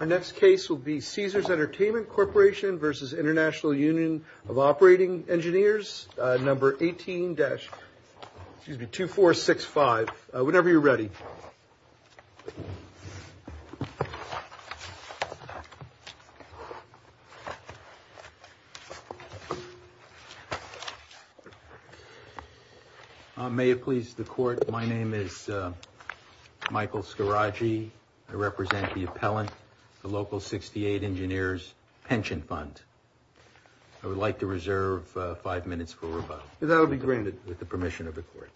Our next case will be CaesarsEntertainmentCorpvInternationalUnionofOperatingEngineersNumber18-2465. Whenever you're ready. May it please the court, my name is Michael Scaraggi. I represent the appellant, the local 68 Engineers Pension Fund. I would like to reserve five minutes for rebuttal. That will be granted with the permission of the court.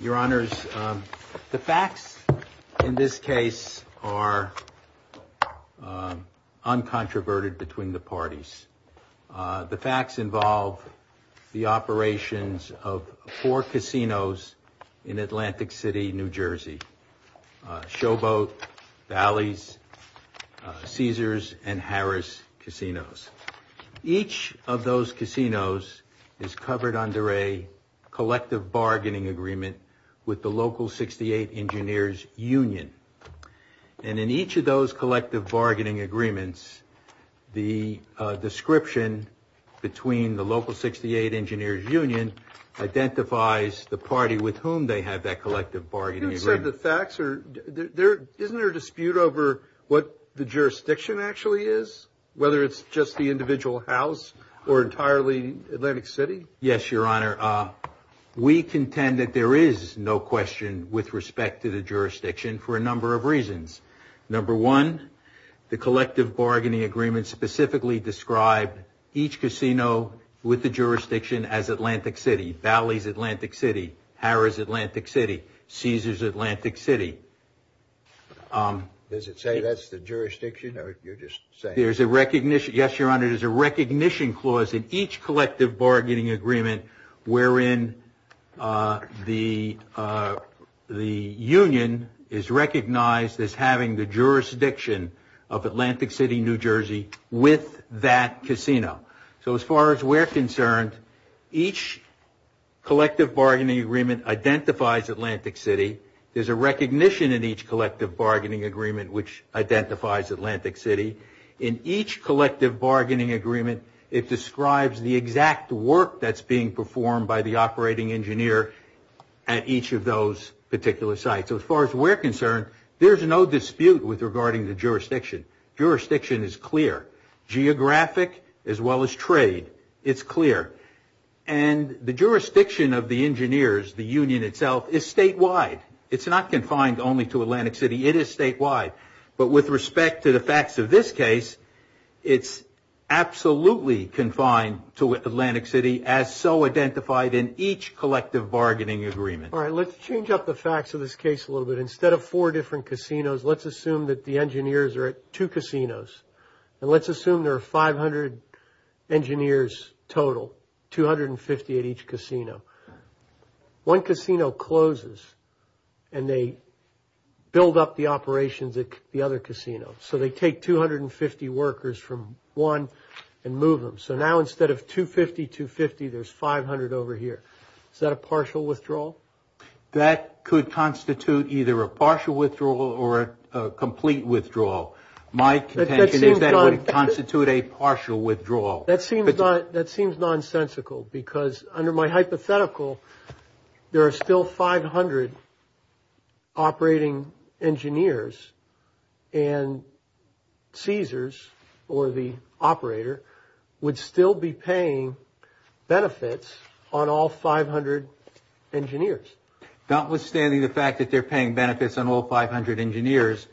Your Honors, the facts in this case are uncontroverted between the parties. The facts involve the operations of four casinos in Atlantic City, New Jersey. Showboat, Valleys, Caesars, and Harris Casinos. Each of those casinos is covered under a collective bargaining agreement with the local 68 Engineers Union. And in each of those collective bargaining agreements, the description between the local 68 Engineers Union identifies the party with whom they have that collective bargaining agreement. Isn't there a dispute over what the jurisdiction actually is? Whether it's just the individual house or entirely Atlantic City? Yes, Your Honor. We contend that there is no question with respect to the jurisdiction for a number of reasons. Number one, the collective bargaining agreement specifically described each casino with the jurisdiction as Atlantic City. Valleys, Atlantic City. Harris, Atlantic City. Caesars, Atlantic City. Does it say that's the jurisdiction or you're just saying? Yes, Your Honor. There's a recognition clause in each collective bargaining agreement wherein the union is recognized as having the jurisdiction of Atlantic City, New Jersey with that casino. So as far as we're concerned, each collective bargaining agreement identifies Atlantic City. There's a recognition in each collective bargaining agreement which identifies Atlantic City. In each collective bargaining agreement, it describes the exact work that's being performed by the operating engineer at each of those particular sites. So as far as we're concerned, there's no dispute with regarding the jurisdiction. Jurisdiction is clear. Geographic as well as trade, it's clear. And the jurisdiction of the engineers, the union itself, is statewide. It's not confined only to Atlantic City. It is statewide. But with respect to the facts of this case, it's absolutely confined to Atlantic City as so identified in each collective bargaining agreement. All right. Let's change up the facts of this case a little bit. Instead of four different casinos, let's assume that the engineers are at two casinos. And let's assume there are 500 engineers total, 250 at each casino. One casino closes and they build up the operations at the other casino. So they take 250 workers from one and move them. So now instead of 250, 250, there's 500 over here. Is that a partial withdrawal? That could constitute either a partial withdrawal or a complete withdrawal. My contention is that it would constitute a partial withdrawal. That seems nonsensical because under my hypothetical, there are still 500 operating engineers. And Caesars, or the operator, would still be paying benefits on all 500 engineers. Notwithstanding the fact that they're paying benefits on all 500 engineers,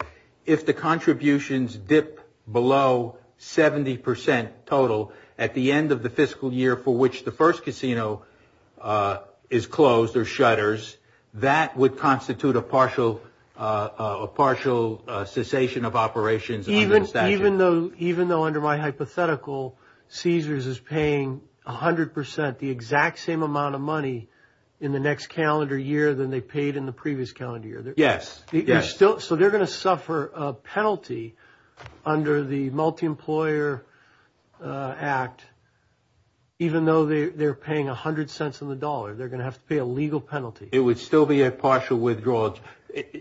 if the contributions dip below 70% total at the end of the fiscal year for which the first casino is closed or shutters, that would constitute a partial cessation of operations under the statute. Even though under my hypothetical, Caesars is paying 100%, the exact same amount of money in the next calendar year than they paid in the previous calendar year. Yes. So they're going to suffer a penalty under the Multi-Employer Act, even though they're paying 100 cents on the dollar. They're going to have to pay a legal penalty. It would still be a partial withdrawal.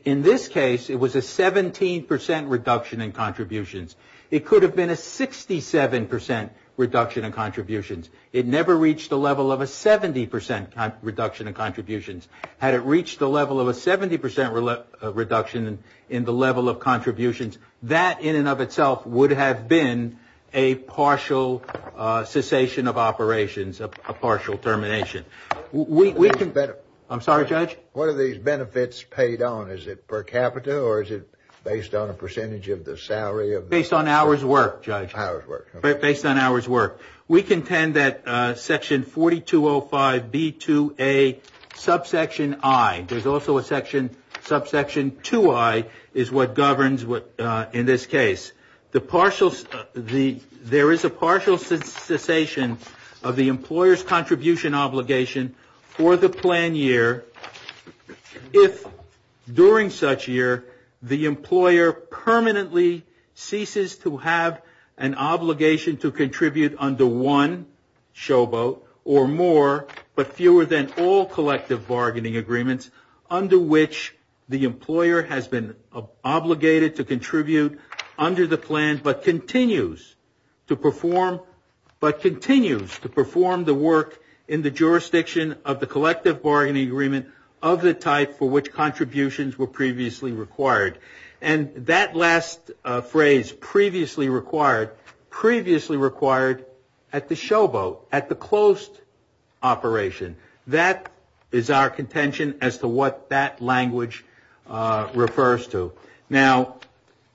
In this case, it was a 17% reduction in contributions. It could have been a 67% reduction in contributions. It never reached the level of a 70% reduction in contributions. Had it reached the level of a 70% reduction in the level of contributions, that in and of itself would have been a partial cessation of operations, a partial termination. I'm sorry, Judge? What are these benefits paid on? Is it per capita or is it based on a percentage of the salary of the employer? Based on hours worked, Judge. Hours worked. Based on hours worked. We contend that section 4205B2A subsection I, there's also a subsection 2I, is what governs in this case. There is a partial cessation of the employer's contribution obligation for the planned year if during such year the employer permanently ceases to have an obligation to contribute under one showboat or more but fewer than all collective bargaining agreements under which the employer has been obligated to contribute under the plan but continues to perform the work in the jurisdiction of the collective bargaining agreement of the type for which contributions were previously required. And that last phrase, previously required, previously required at the showboat, at the closed operation. That is our contention as to what that language refers to. Now,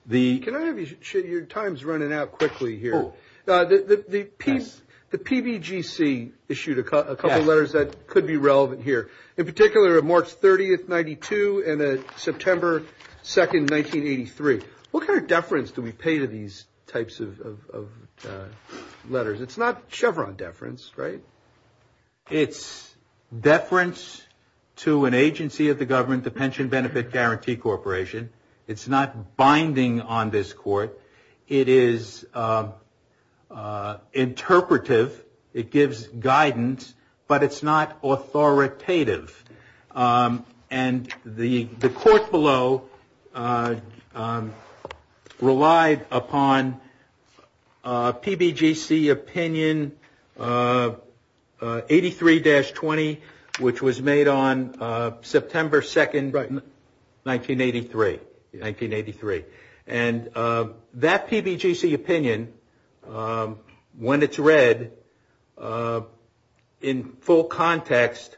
the ‑‑ Can I have you, your time is running out quickly here. The PBGC issued a couple of letters that could be relevant here. In particular, March 30th, 1992 and September 2nd, 1983. What kind of deference do we pay to these types of letters? It's not Chevron deference, right? It's deference to an agency of the government, the Pension Benefit Guarantee Corporation. It's not binding on this court. It is interpretive. It gives guidance. But it's not authoritative. And the court below relied upon PBGC opinion 83‑20, which was made on September 2nd, 1983. And that PBGC opinion, when it's read in full context,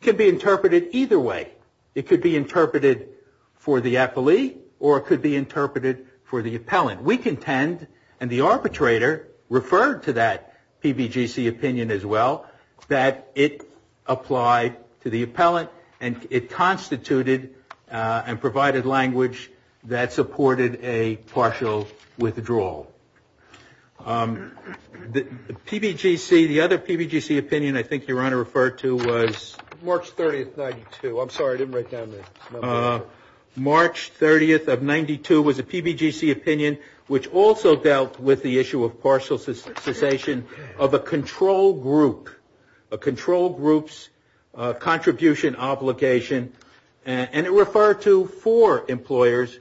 can be interpreted either way. It could be interpreted for the appellee or it could be interpreted for the appellant. We contend, and the arbitrator referred to that PBGC opinion as well, that it applied to the appellant and it constituted and provided language that supported a partial withdrawal. The other PBGC opinion I think your Honor referred to was March 30th, 1992. I'm sorry, I didn't write down the number. March 30th of 1992 was a PBGC opinion which also dealt with the issue of partial cessation of a control group. A control group's contribution obligation. And it referred to four employers,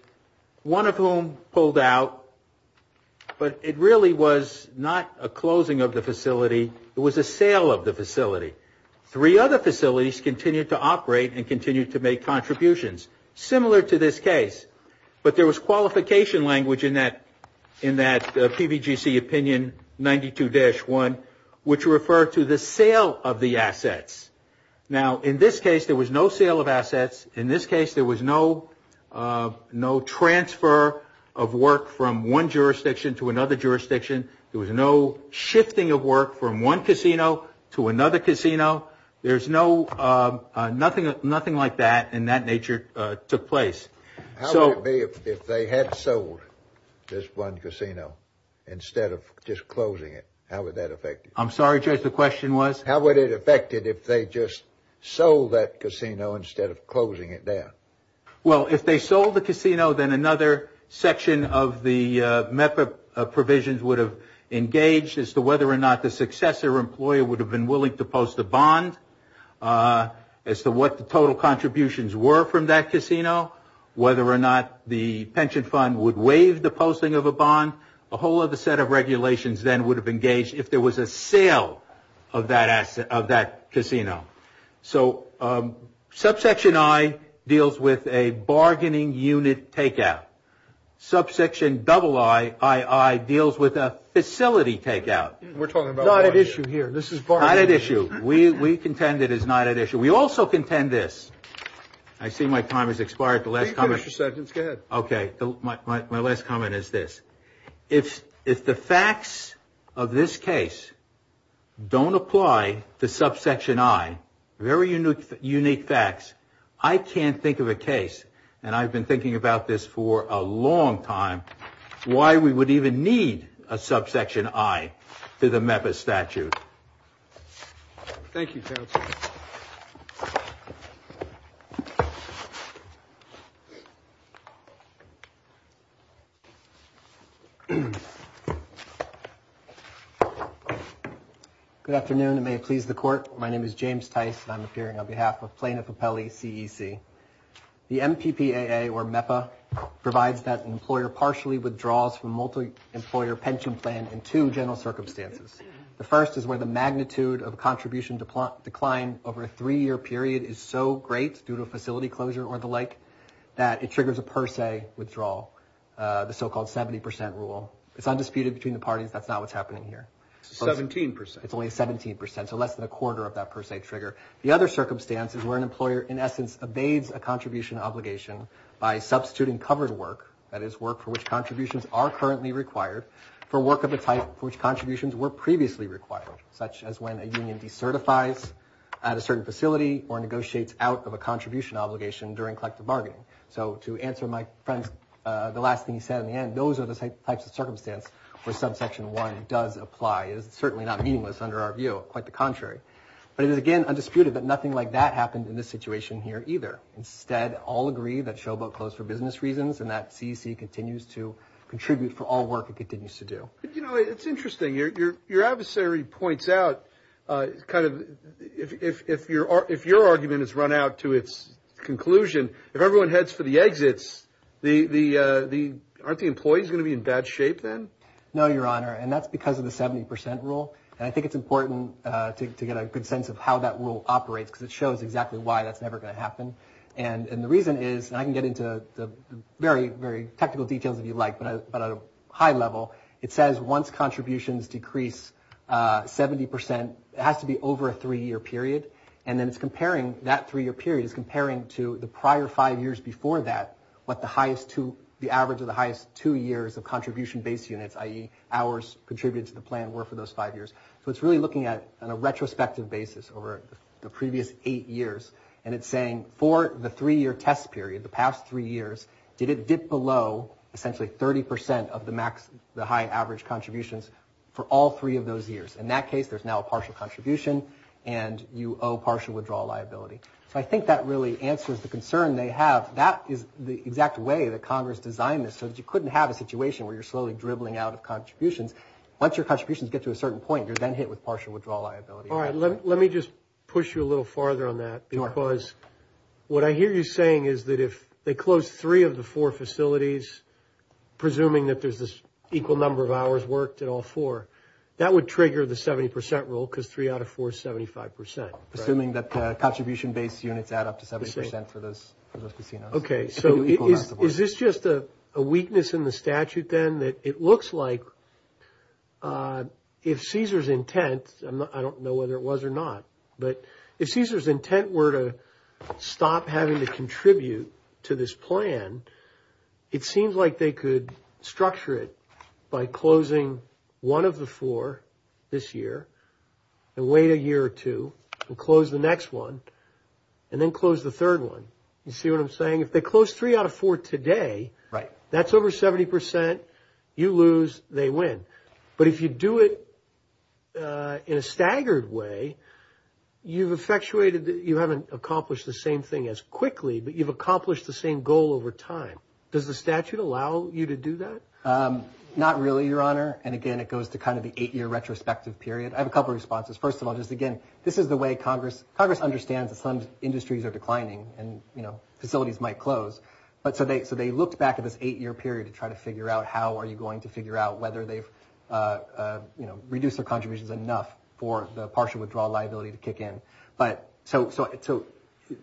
one of whom pulled out. But it really was not a closing of the facility. It was a sale of the facility. Three other facilities continued to operate and continued to make contributions. Similar to this case. But there was qualification language in that PBGC opinion 92-1 which referred to the sale of the assets. Now, in this case, there was no sale of assets. In this case, there was no transfer of work from one jurisdiction to another jurisdiction. There was no shifting of work from one casino to another casino. There's no, nothing like that in that nature took place. How would it be if they had sold this one casino instead of just closing it? How would that affect it? I'm sorry, Judge, the question was? How would it affect it if they just sold that casino instead of closing it down? Well, if they sold the casino, then another section of the MEPA provisions would have engaged as to whether or not the successor employer would have been willing to post a bond as to what the total contributions were from that casino, whether or not the pension fund would waive the posting of a bond. A whole other set of regulations then would have engaged if there was a sale of that casino. So subsection I deals with a bargaining unit takeout. Subsection II deals with a facility takeout. We're talking about not at issue here. This is not at issue. We contend it is not at issue. We also contend this. I see my time has expired. The last comment is good. OK, my last comment is this. If if the facts of this case don't apply to subsection I, very unique, unique facts. I can't think of a case. And I've been thinking about this for a long time. Why we would even need a subsection I. To the MEPA statute. Thank you. Good afternoon. May it please the court. My name is James Tice. I'm appearing on behalf of plaintiff appellee CEC. The MPPAA or MEPA provides that an employer partially withdraws from multi-employer pension plan in two general circumstances. The first is where the magnitude of contribution decline over a three-year period is so great due to a facility closure or the like that it triggers a per se withdrawal. The so-called 70 percent rule. It's undisputed between the parties. That's not what's happening here. 17 percent. It's only 17 percent. So less than a quarter of that per se trigger. The other circumstance is where an employer in essence evades a contribution obligation by substituting covered work. That is work for which contributions are currently required for work of the type for which contributions were previously required. Such as when a union decertifies at a certain facility or negotiates out of a contribution obligation during collective bargaining. So to answer my friend's, the last thing he said in the end, those are the types of circumstance where subsection I does apply. It is certainly not meaningless under our view. Quite the contrary. But it is again undisputed that nothing like that happened in this situation here either. Instead, all agree that Showboat closed for business reasons and that CEC continues to contribute for all work it continues to do. You know, it's interesting. Your adversary points out kind of if your argument is run out to its conclusion, if everyone heads for the exits, aren't the employees going to be in bad shape then? No, Your Honor. And that's because of the 70 percent rule. And I think it's important to get a good sense of how that rule operates because it shows exactly why that's never going to happen. And the reason is, and I can get into the very, very technical details if you like. But at a high level, it says once contributions decrease 70 percent, it has to be over a three-year period. And then it's comparing that three-year period, it's comparing to the prior five years before that what the highest two, the average of the highest two years of contribution-based units, i.e. hours contributed to the plan were for those five years. So it's really looking at it on a retrospective basis over the previous eight years. And it's saying for the three-year test period, the past three years, did it dip below essentially 30 percent of the high average contributions for all three of those years? In that case, there's now a partial contribution and you owe partial withdrawal liability. So I think that really answers the concern they have. That is the exact way that Congress designed this so that you couldn't have a situation where you're slowly dribbling out of contributions. Once your contributions get to a certain point, you're then hit with partial withdrawal liability. All right, let me just push you a little farther on that because what I hear you saying is that if they close three of the four facilities, presuming that there's this equal number of hours worked at all four, that would trigger the 70 percent rule because three out of four is 75 percent. Assuming that the contribution-based units add up to 70 percent for those casinos. Okay, so is this just a weakness in the statute then that it looks like if Caesar's intent, I don't know whether it was or not, but if Caesar's intent were to stop having to contribute to this plan, it seems like they could structure it by closing one of the four this year and wait a year or two and close the next one and then close the third one. You see what I'm saying? If they close three out of four today, that's over 70 percent. You lose. They win. But if you do it in a staggered way, you haven't accomplished the same thing as quickly, but you've accomplished the same goal over time. Does the statute allow you to do that? Not really, Your Honor. And again, it goes to kind of the eight-year retrospective period. I have a couple of responses. First of all, just again, this is the way Congress understands that some industries are declining and facilities might close. So they looked back at this eight-year period to try to figure out how are you going to figure out whether they've reduced their contributions enough for the partial withdrawal liability to kick in. So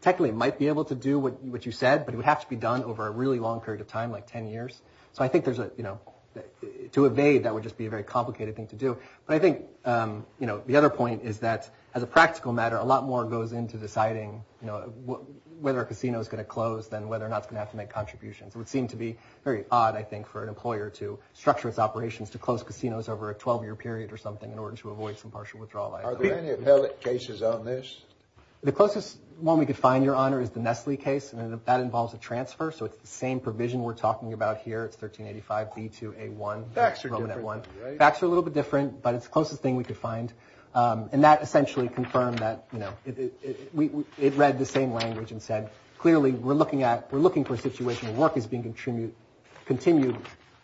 technically, it might be able to do what you said, but it would have to be done over a really long period of time, like 10 years. So I think to evade, that would just be a very complicated thing to do. But I think the other point is that as a practical matter, a lot more goes into deciding whether a casino is going to close than whether or not it's going to have to make contributions. It would seem to be very odd, I think, for an employer to structure its operations to close casinos over a 12-year period or something in order to avoid some partial withdrawal liability. Are there any appellate cases on this? The closest one we could find, Your Honor, is the Nestle case, and that involves a transfer. So it's the same provision we're talking about here. It's 1385B2A1. Facts are different, right? Facts are a little bit different, but it's the closest thing we could find. And that essentially confirmed that, you know, it read the same language and said, clearly, we're looking for a situation where work is being continued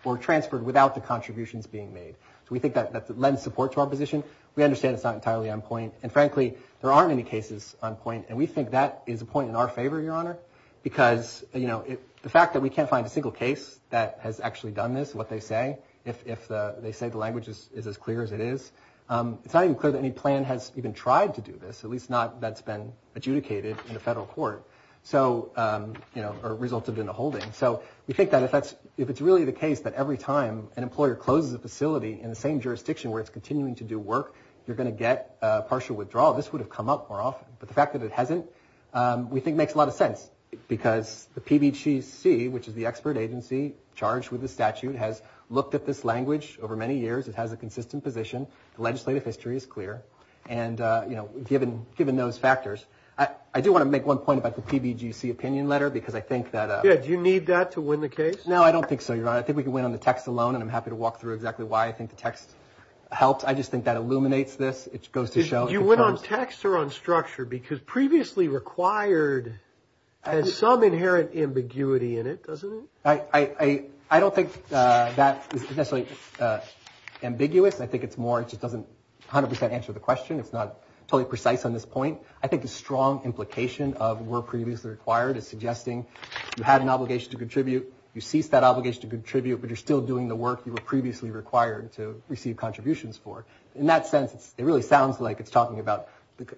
or transferred without the contributions being made. So we think that lends support to our position. We understand it's not entirely on point. And frankly, there aren't any cases on point, and we think that is a point in our favor, Your Honor, because, you know, the fact that we can't find a single case that has actually done this, what they say, if they say the language is as clear as it is, it's not even clear that any plan has even tried to do this, at least not that's been adjudicated in the federal court or resulted in a holding. So we think that if it's really the case that every time an employer closes a facility in the same jurisdiction where it's continuing to do work, you're going to get partial withdrawal. This would have come up more often. But the fact that it hasn't, we think, makes a lot of sense, because the PBGC, which is the expert agency charged with the statute, has looked at this language over many years. It has a consistent position. The legislative history is clear. And, you know, given those factors, I do want to make one point about the PBGC opinion letter, because I think that... Yeah, do you need that to win the case? No, I don't think so, Your Honor. I think we can win on the text alone, and I'm happy to walk through exactly why I think the text helped. I just think that illuminates this. It goes to show... You went on text or on structure, because previously required has some inherent ambiguity in it, doesn't it? I don't think that is necessarily ambiguous. I think it's more, it just doesn't 100 percent answer the question. It's not totally precise on this point. I think the strong implication of we're previously required is suggesting you had an obligation to contribute. You ceased that obligation to contribute, but you're still doing the work you were previously required to receive contributions for. In that sense, it really sounds like it's talking about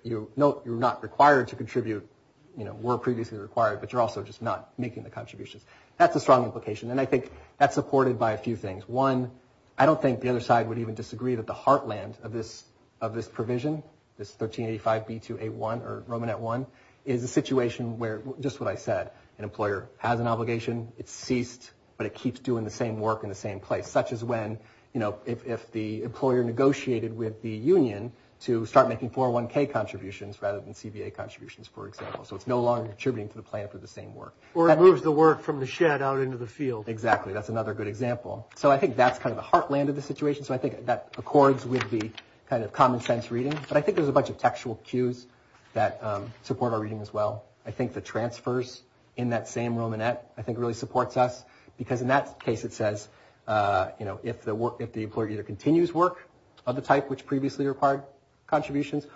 you're not required to contribute, you know, were previously required, but you're also just not making the contributions. That's a strong implication, and I think that's supported by a few things. One, I don't think the other side would even disagree that the heartland of this provision, this 1385B2A1 or Romanet I, is a situation where, just what I said, an employer has an obligation, it's ceased, but it keeps doing the same work in the same place. Such as when, you know, if the employer negotiated with the union to start making 401K contributions rather than CBA contributions, for example. So it's no longer contributing to the plan for the same work. Or it moves the work from the shed out into the field. Exactly. That's another good example. So I think that's kind of the heartland of the situation. So I think that accords with the kind of common sense reading. But I think there's a bunch of textual cues that support our reading as well. I think the transfers in that same Romanet, I think, really supports us. Because in that case it says, you know, if the employer either continues work of the type which previously required contributions,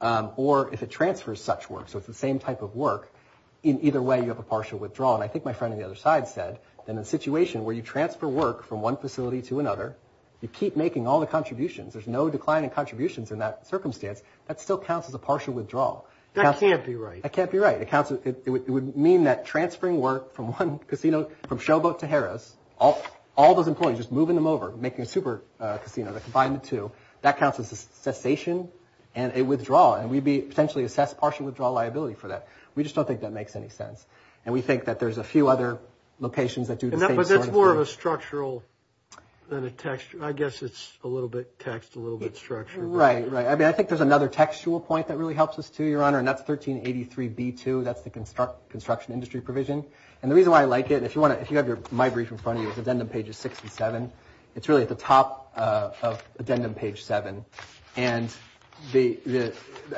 or if it transfers such work, so it's the same type of work, in either way you have a partial withdrawal. And I think my friend on the other side said that in a situation where you transfer work from one facility to another, you keep making all the contributions. There's no decline in contributions in that circumstance. That still counts as a partial withdrawal. That can't be right. It would mean that transferring work from one casino, from Showboat to Harris, all those employees, just moving them over, making a super casino, that combined the two, that counts as a cessation and a withdrawal. And we'd be potentially assessed partial withdrawal liability for that. We just don't think that makes any sense. And we think that there's a few other locations that do the same sort of thing. But that's more of a structural than a textual. I guess it's a little bit text, a little bit structure. Right, right. I mean, I think there's another textual point that really helps us too, Your Honor, and that's 1383B2. That's the construction industry provision. And the reason why I like it, if you have your My Brief in front of you, it's addendum pages six and seven. It's really at the top of addendum page seven. And I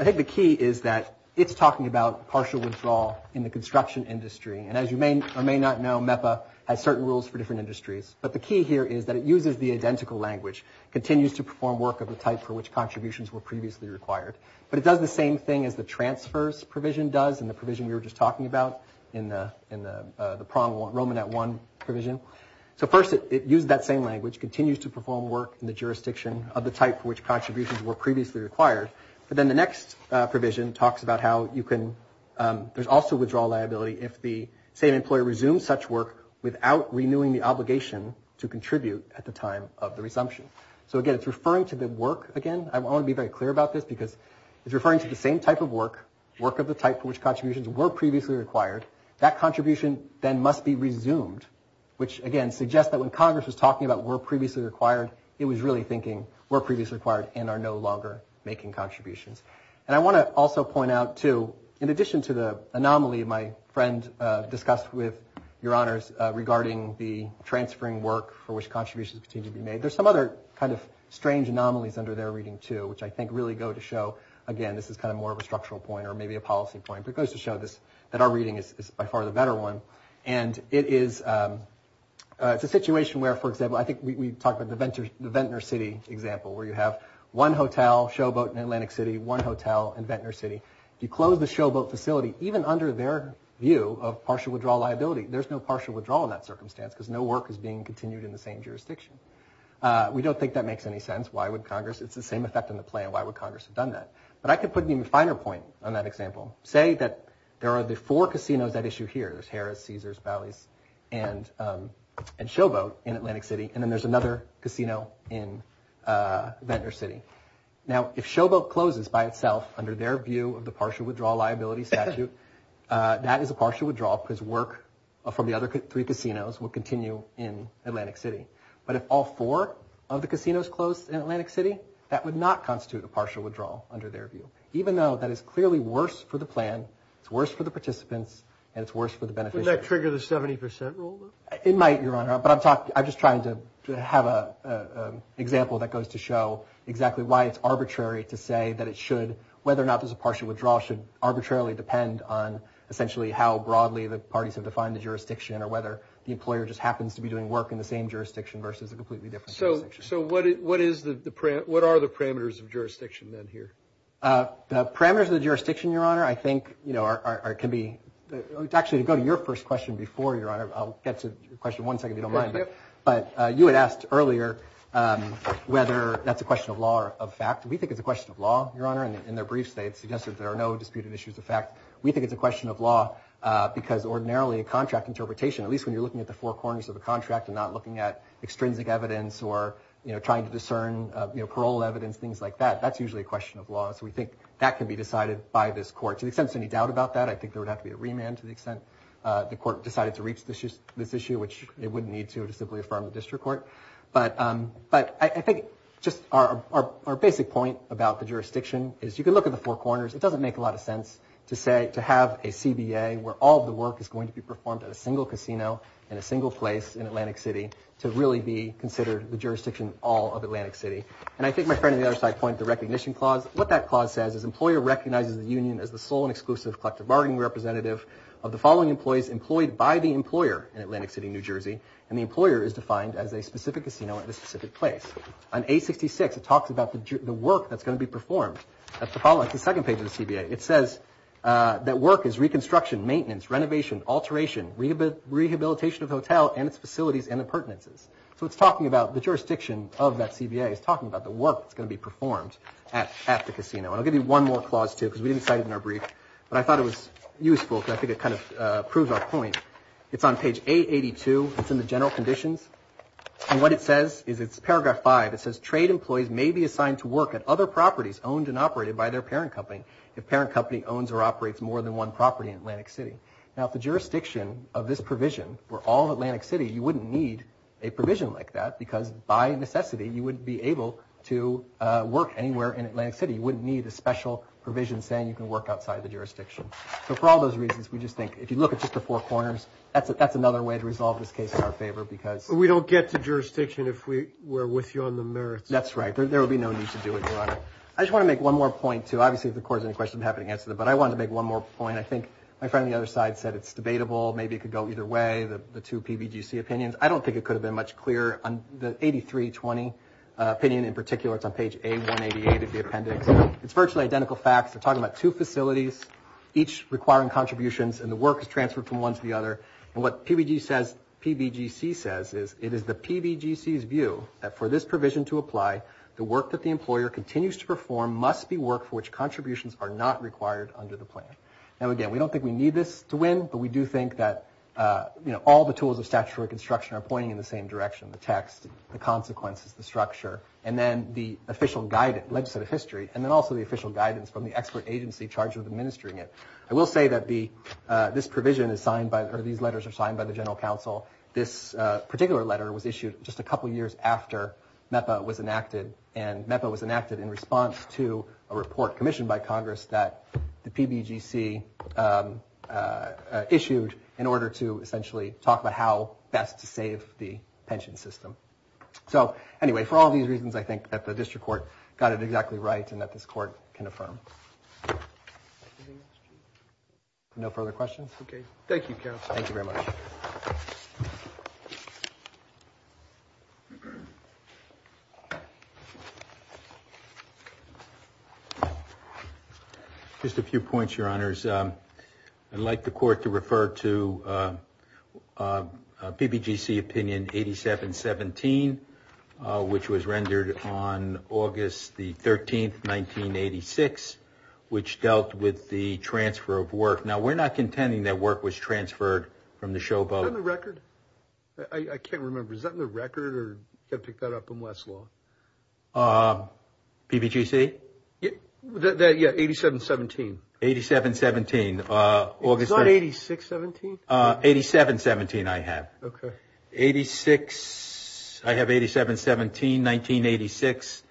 think the key is that it's talking about partial withdrawal in the construction industry. And as you may or may not know, MEPA has certain rules for different industries. But the key here is that it uses the identical language, continues to perform work of the type for which contributions were previously required. But it does the same thing as the transfers provision does, and the provision we were just talking about in the Romanet I provision. So first, it uses that same language, continues to perform work in the jurisdiction of the type for which contributions were previously required. But then the next provision talks about how you can, there's also withdrawal liability if the same employer resumes such work without renewing the obligation to contribute at the time of the resumption. So again, it's referring to the work again. I want to be very clear about this because it's referring to the same type of work, work of the type for which contributions were previously required. That contribution then must be resumed, which again, suggests that when Congress was talking about were previously required, it was really thinking were previously required and are no longer making contributions. And I want to also point out too, in addition to the anomaly, my friend discussed with your honors regarding the transferring work for which contributions continue to be made. There's some other kind of strange anomalies under their reading too, which I think really go to show, again, this is kind of more of a structural point or maybe a policy point, but it goes to show this, that our reading is by far the better one. And it is, it's a situation where, for example, I think we talked about the Ventnor City example, where you have one hotel, showboat in Atlantic City, one hotel in Ventnor City. If you close the showboat facility, even under their view of partial withdrawal liability, there's no partial withdrawal in that circumstance because no work is being continued in the same jurisdiction. We don't think that makes any sense. Why would Congress, it's the same effect on the plan. Why would Congress have done that? But I can put an even finer point on that example. Say that there are the four casinos at issue here. There's Harris, Caesars, Bally's, and showboat in Atlantic City. And then there's another casino in Ventnor City. Now, if showboat closes by itself under their view of the partial withdrawal liability statute, that is a partial withdrawal because work from the other three casinos will continue in Atlantic City. But if all four of the casinos closed in Atlantic City, that would not constitute a partial withdrawal under their view, even though that is clearly worse for the plan, it's worse for the participants, and it's worse for the beneficiaries. Wouldn't that trigger the 70% rule? It might, Your Honor, but I'm just trying to have an example that goes to show exactly why it's arbitrary to say that it should, whether or not there's a partial withdrawal, should arbitrarily depend on essentially how broadly the parties have defined the jurisdiction or whether the employer just happens to be doing work in the same jurisdiction versus a completely different jurisdiction. So what are the parameters of jurisdiction then here? The parameters of the jurisdiction, Your Honor, I think, you know, can be, actually to go to your first question before, Your Honor, I'll get to your question one second if you don't mind, but you had asked earlier whether that's a question of law or of fact. We think it's a question of law, Your Honor, and in their brief state it suggested there are no disputed issues of fact. a contract interpretation, at least when you're looking at extrinsic evidence or trying to discern parole evidence, things like that, that's usually a question of law. So we think that can be decided by this court. To the extent there's any doubt about that, I think there would have to be a remand to the extent the court decided to reach this issue, which it wouldn't need to to simply affirm the district court. But I think just our basic point about the jurisdiction is you can look at the four corners. It doesn't make a lot of sense to say, to have a CBA where all the work is going to be performed at a single casino in a single place in Atlantic City to really be considered the jurisdiction of all of Atlantic City. And I think my friend on the other side pointed to the recognition clause. What that clause says is employer recognizes the union as the sole and exclusive collective bargaining representative of the following employees employed by the employer in Atlantic City, New Jersey, and the employer is defined as a specific casino at a specific place. On A66 it talks about the work that's going to be performed. That's the second page of the CBA. It says that work is reconstruction, maintenance, renovation, alteration, rehabilitation of hotel and its facilities and appurtenances. So it's talking about the jurisdiction of that CBA is talking about the work that's going to be performed at the casino. And I'll give you one more clause too because we didn't cite it in our brief, but I thought it was useful because I think it kind of proves our point. It's on page 882. It's in the general conditions. And what it says is it's paragraph five. It says trade employees may be assigned to work at other properties owned and operated by their parent company if parent company owns or operates more than one property in Atlantic City. Now if the jurisdiction of this provision were all of Atlantic City, you wouldn't need a provision like that because by necessity you wouldn't be able to work anywhere in Atlantic City. You wouldn't need a special provision saying you can work outside the jurisdiction. So for all those reasons we just think if you look at just the four corners, that's another way to resolve this case in our favor because we don't get to jurisdiction if we're with you on the merits. That's right. There would be no need to do it, Your Honor. I just want to make one more point too. Obviously if the court has any questions I'm happy to answer them, but I wanted to make one more point. I think my friend on the other side said it's debatable. Maybe it could go either way, the two PBGC opinions. I don't think it could have been much clearer. The 8320 opinion in particular, it's on page A188 of the appendix. It's virtually identical facts. They're talking about two facilities each requiring contributions and the work is transferred from one to the other. And what PBGC says is it is the PBGC's view that for this provision to apply, the work that the employer continues to perform must be work for which contributions are not required under the plan. Now again, we don't think we need this to win, but we do think that all the tools of statutory construction are pointing in the same direction. The text, the consequences, the structure, and then the official guidance, legislative history, and then also the official guidance from the expert agency charged with administering it. I will say that this provision is signed by, or these letters are signed by the general counsel. This particular letter was issued just a couple years after MEPA was enacted and MEPA was enacted in response to a report commissioned by Congress that the PBGC issued in order to essentially talk about how best to save the pension system. So anyway, for all these reasons, I think that the district court got it exactly right and that this court can affirm. No further questions? Okay. Thank you, counsel. Thank you very much. Just a few points, your honors. I'd like the court to refer to PBGC opinion 8717, which was rendered on August the 13th, 1986, which dealt with the transfer of work. Now, we're not contending that work was transferred from the showboat. Is that in the record? I can't remember. Is that in the record or did you pick that up in Westlaw? PBGC? Yeah, 8717. 8717. It's not 8617? 8717 I have. Okay. I have 8717, 1986.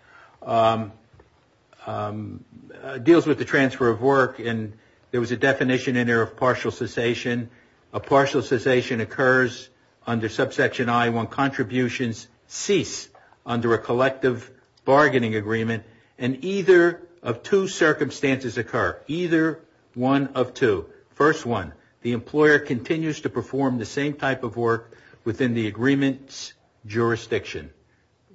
It deals with the transfer of work and there was a definition in there of partial cessation. A partial cessation occurs under subsection I1. Contributions cease in a collective bargaining agreement and either of two circumstances occur. Either one of two. First one, the employer continues to perform the same type of work within the agreement's jurisdiction.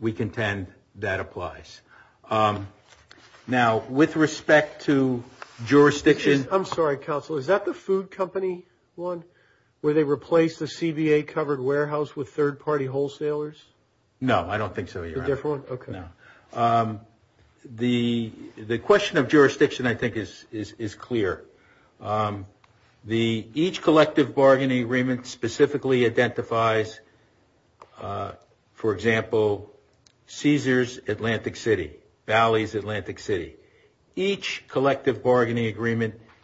We contend that applies. Now, with respect to jurisdiction. I'm sorry, counsel. Is that the food company one where they replaced the CBA-covered warehouse with third-party wholesalers? No, I don't think so, Your Honor. A different one? No. The question of jurisdiction, I think, is clear. Each collective bargaining agreement specifically identifies, for example, Cesar's Atlantic City, Valley's Atlantic City.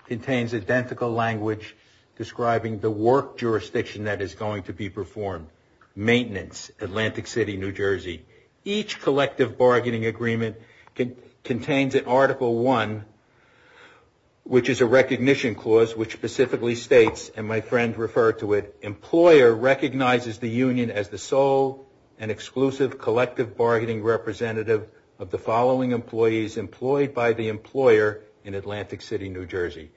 contains identical language describing the work jurisdiction that is going to be performed. Maintenance, Atlantic City, New Jersey. Each collective bargaining agreement contains an Article I, which is a recognition clause which specifically states, and my friend referred to it, employer recognizes the union as the sole and exclusive collective bargaining representative of the following employees employed by the employer in Atlantic City, New Jersey.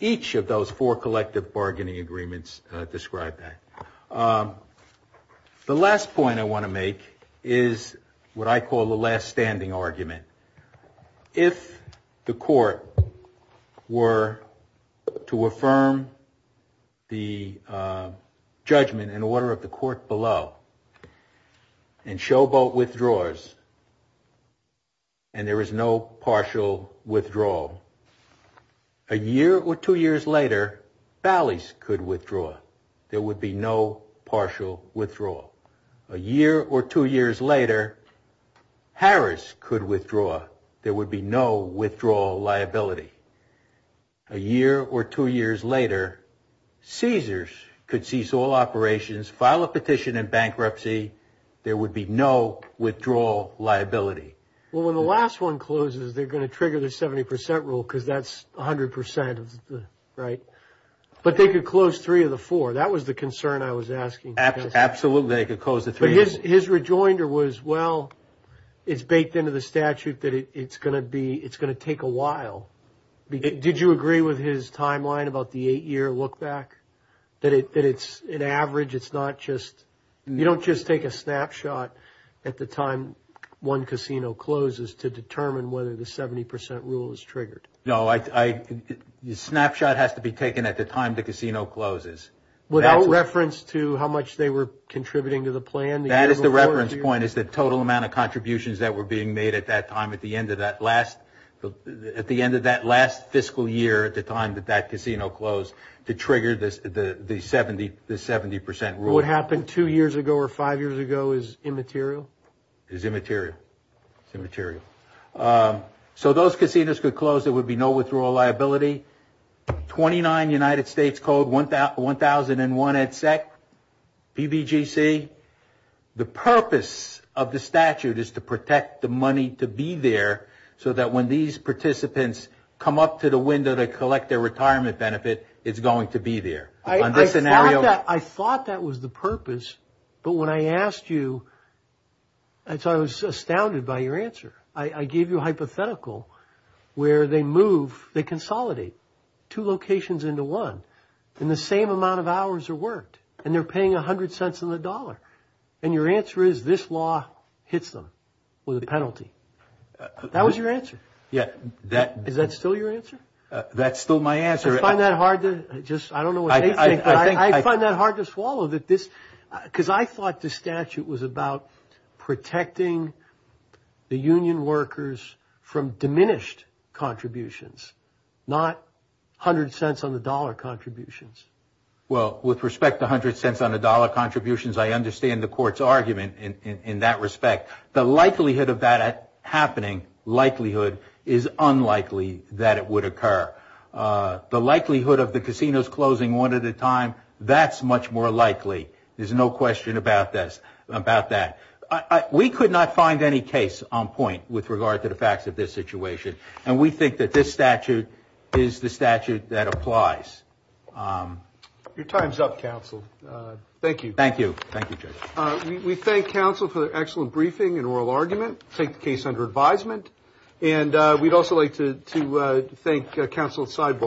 Each of those four collective bargaining agreements describe that. The last point I want to make is what I call the last standing argument. If the court were to affirm the judgment in order of the court below and Showboat withdraws and there is no partial withdrawal, a year or two years later, Valley's could withdraw. There would be no partial withdrawal. A year or two years later, Harris could withdraw. There would be no withdrawal liability. A year or two years later, Cesar's could cease all operations, file a petition in bankruptcy. There would be no withdrawal liability. Well, when the last one closes, they're going to trigger the 70% rule because that's 100%, right? But they could close three of the four. That was the concern I was asking. Absolutely, they could close the three. But his rejoinder was, well, it's baked into the statute that it's going to be, it's going to take a while. Did you agree with his timeline about the eight-year look back? That it's an average, it's not just, you don't just take a snapshot at the time one casino closes to determine whether the 70% rule is triggered. No, the snapshot has to be taken at the time the casino closes. Without reference to how much they were contributing to the plan? That is the reference point, is the total amount of contributions that were being made at that time at the end of that last fiscal year at the time that that casino closed to trigger the 70% rule. What happened two years ago or five years ago is immaterial? It's immaterial. It's immaterial. So those casinos could close. There would be no withdrawal liability. The United States Code 1001-EDSEC, PBGC, the purpose of the statute is to protect the money to be there so that when these participants come up to the window to collect their retirement benefit, it's going to be there. I thought that was the purpose, but when I asked you, I was astounded by your answer. I gave you a hypothetical where they move, they consolidate two locations in one, and the same amount of hours are worked, and they're paying 100 cents on the dollar, and your answer is this law hits them with a penalty. That was your answer. Is that still your answer? That's still my answer. I find that hard to just, I don't know what they think, but I find that hard to swallow because I thought the statute was about protecting the union workers from diminished contributions, not 100 cents on the dollar contributions. Well, with respect to 100 cents on the dollar contributions, I understand the court's argument in that respect. The likelihood of that happening, likelihood, is unlikely that it would occur. The likelihood of the casinos closing one at a time, that's much more likely. There's no question about that. We could not find any case on point with regard to the facts of this situation, and we think that this statute is the statute that applies. Your time's up, counsel. Thank you. Thank you, Judge. We thank counsel for the excellent briefing and oral argument. We take the case under advisement, and we'd also like to thank counsel at sidebar.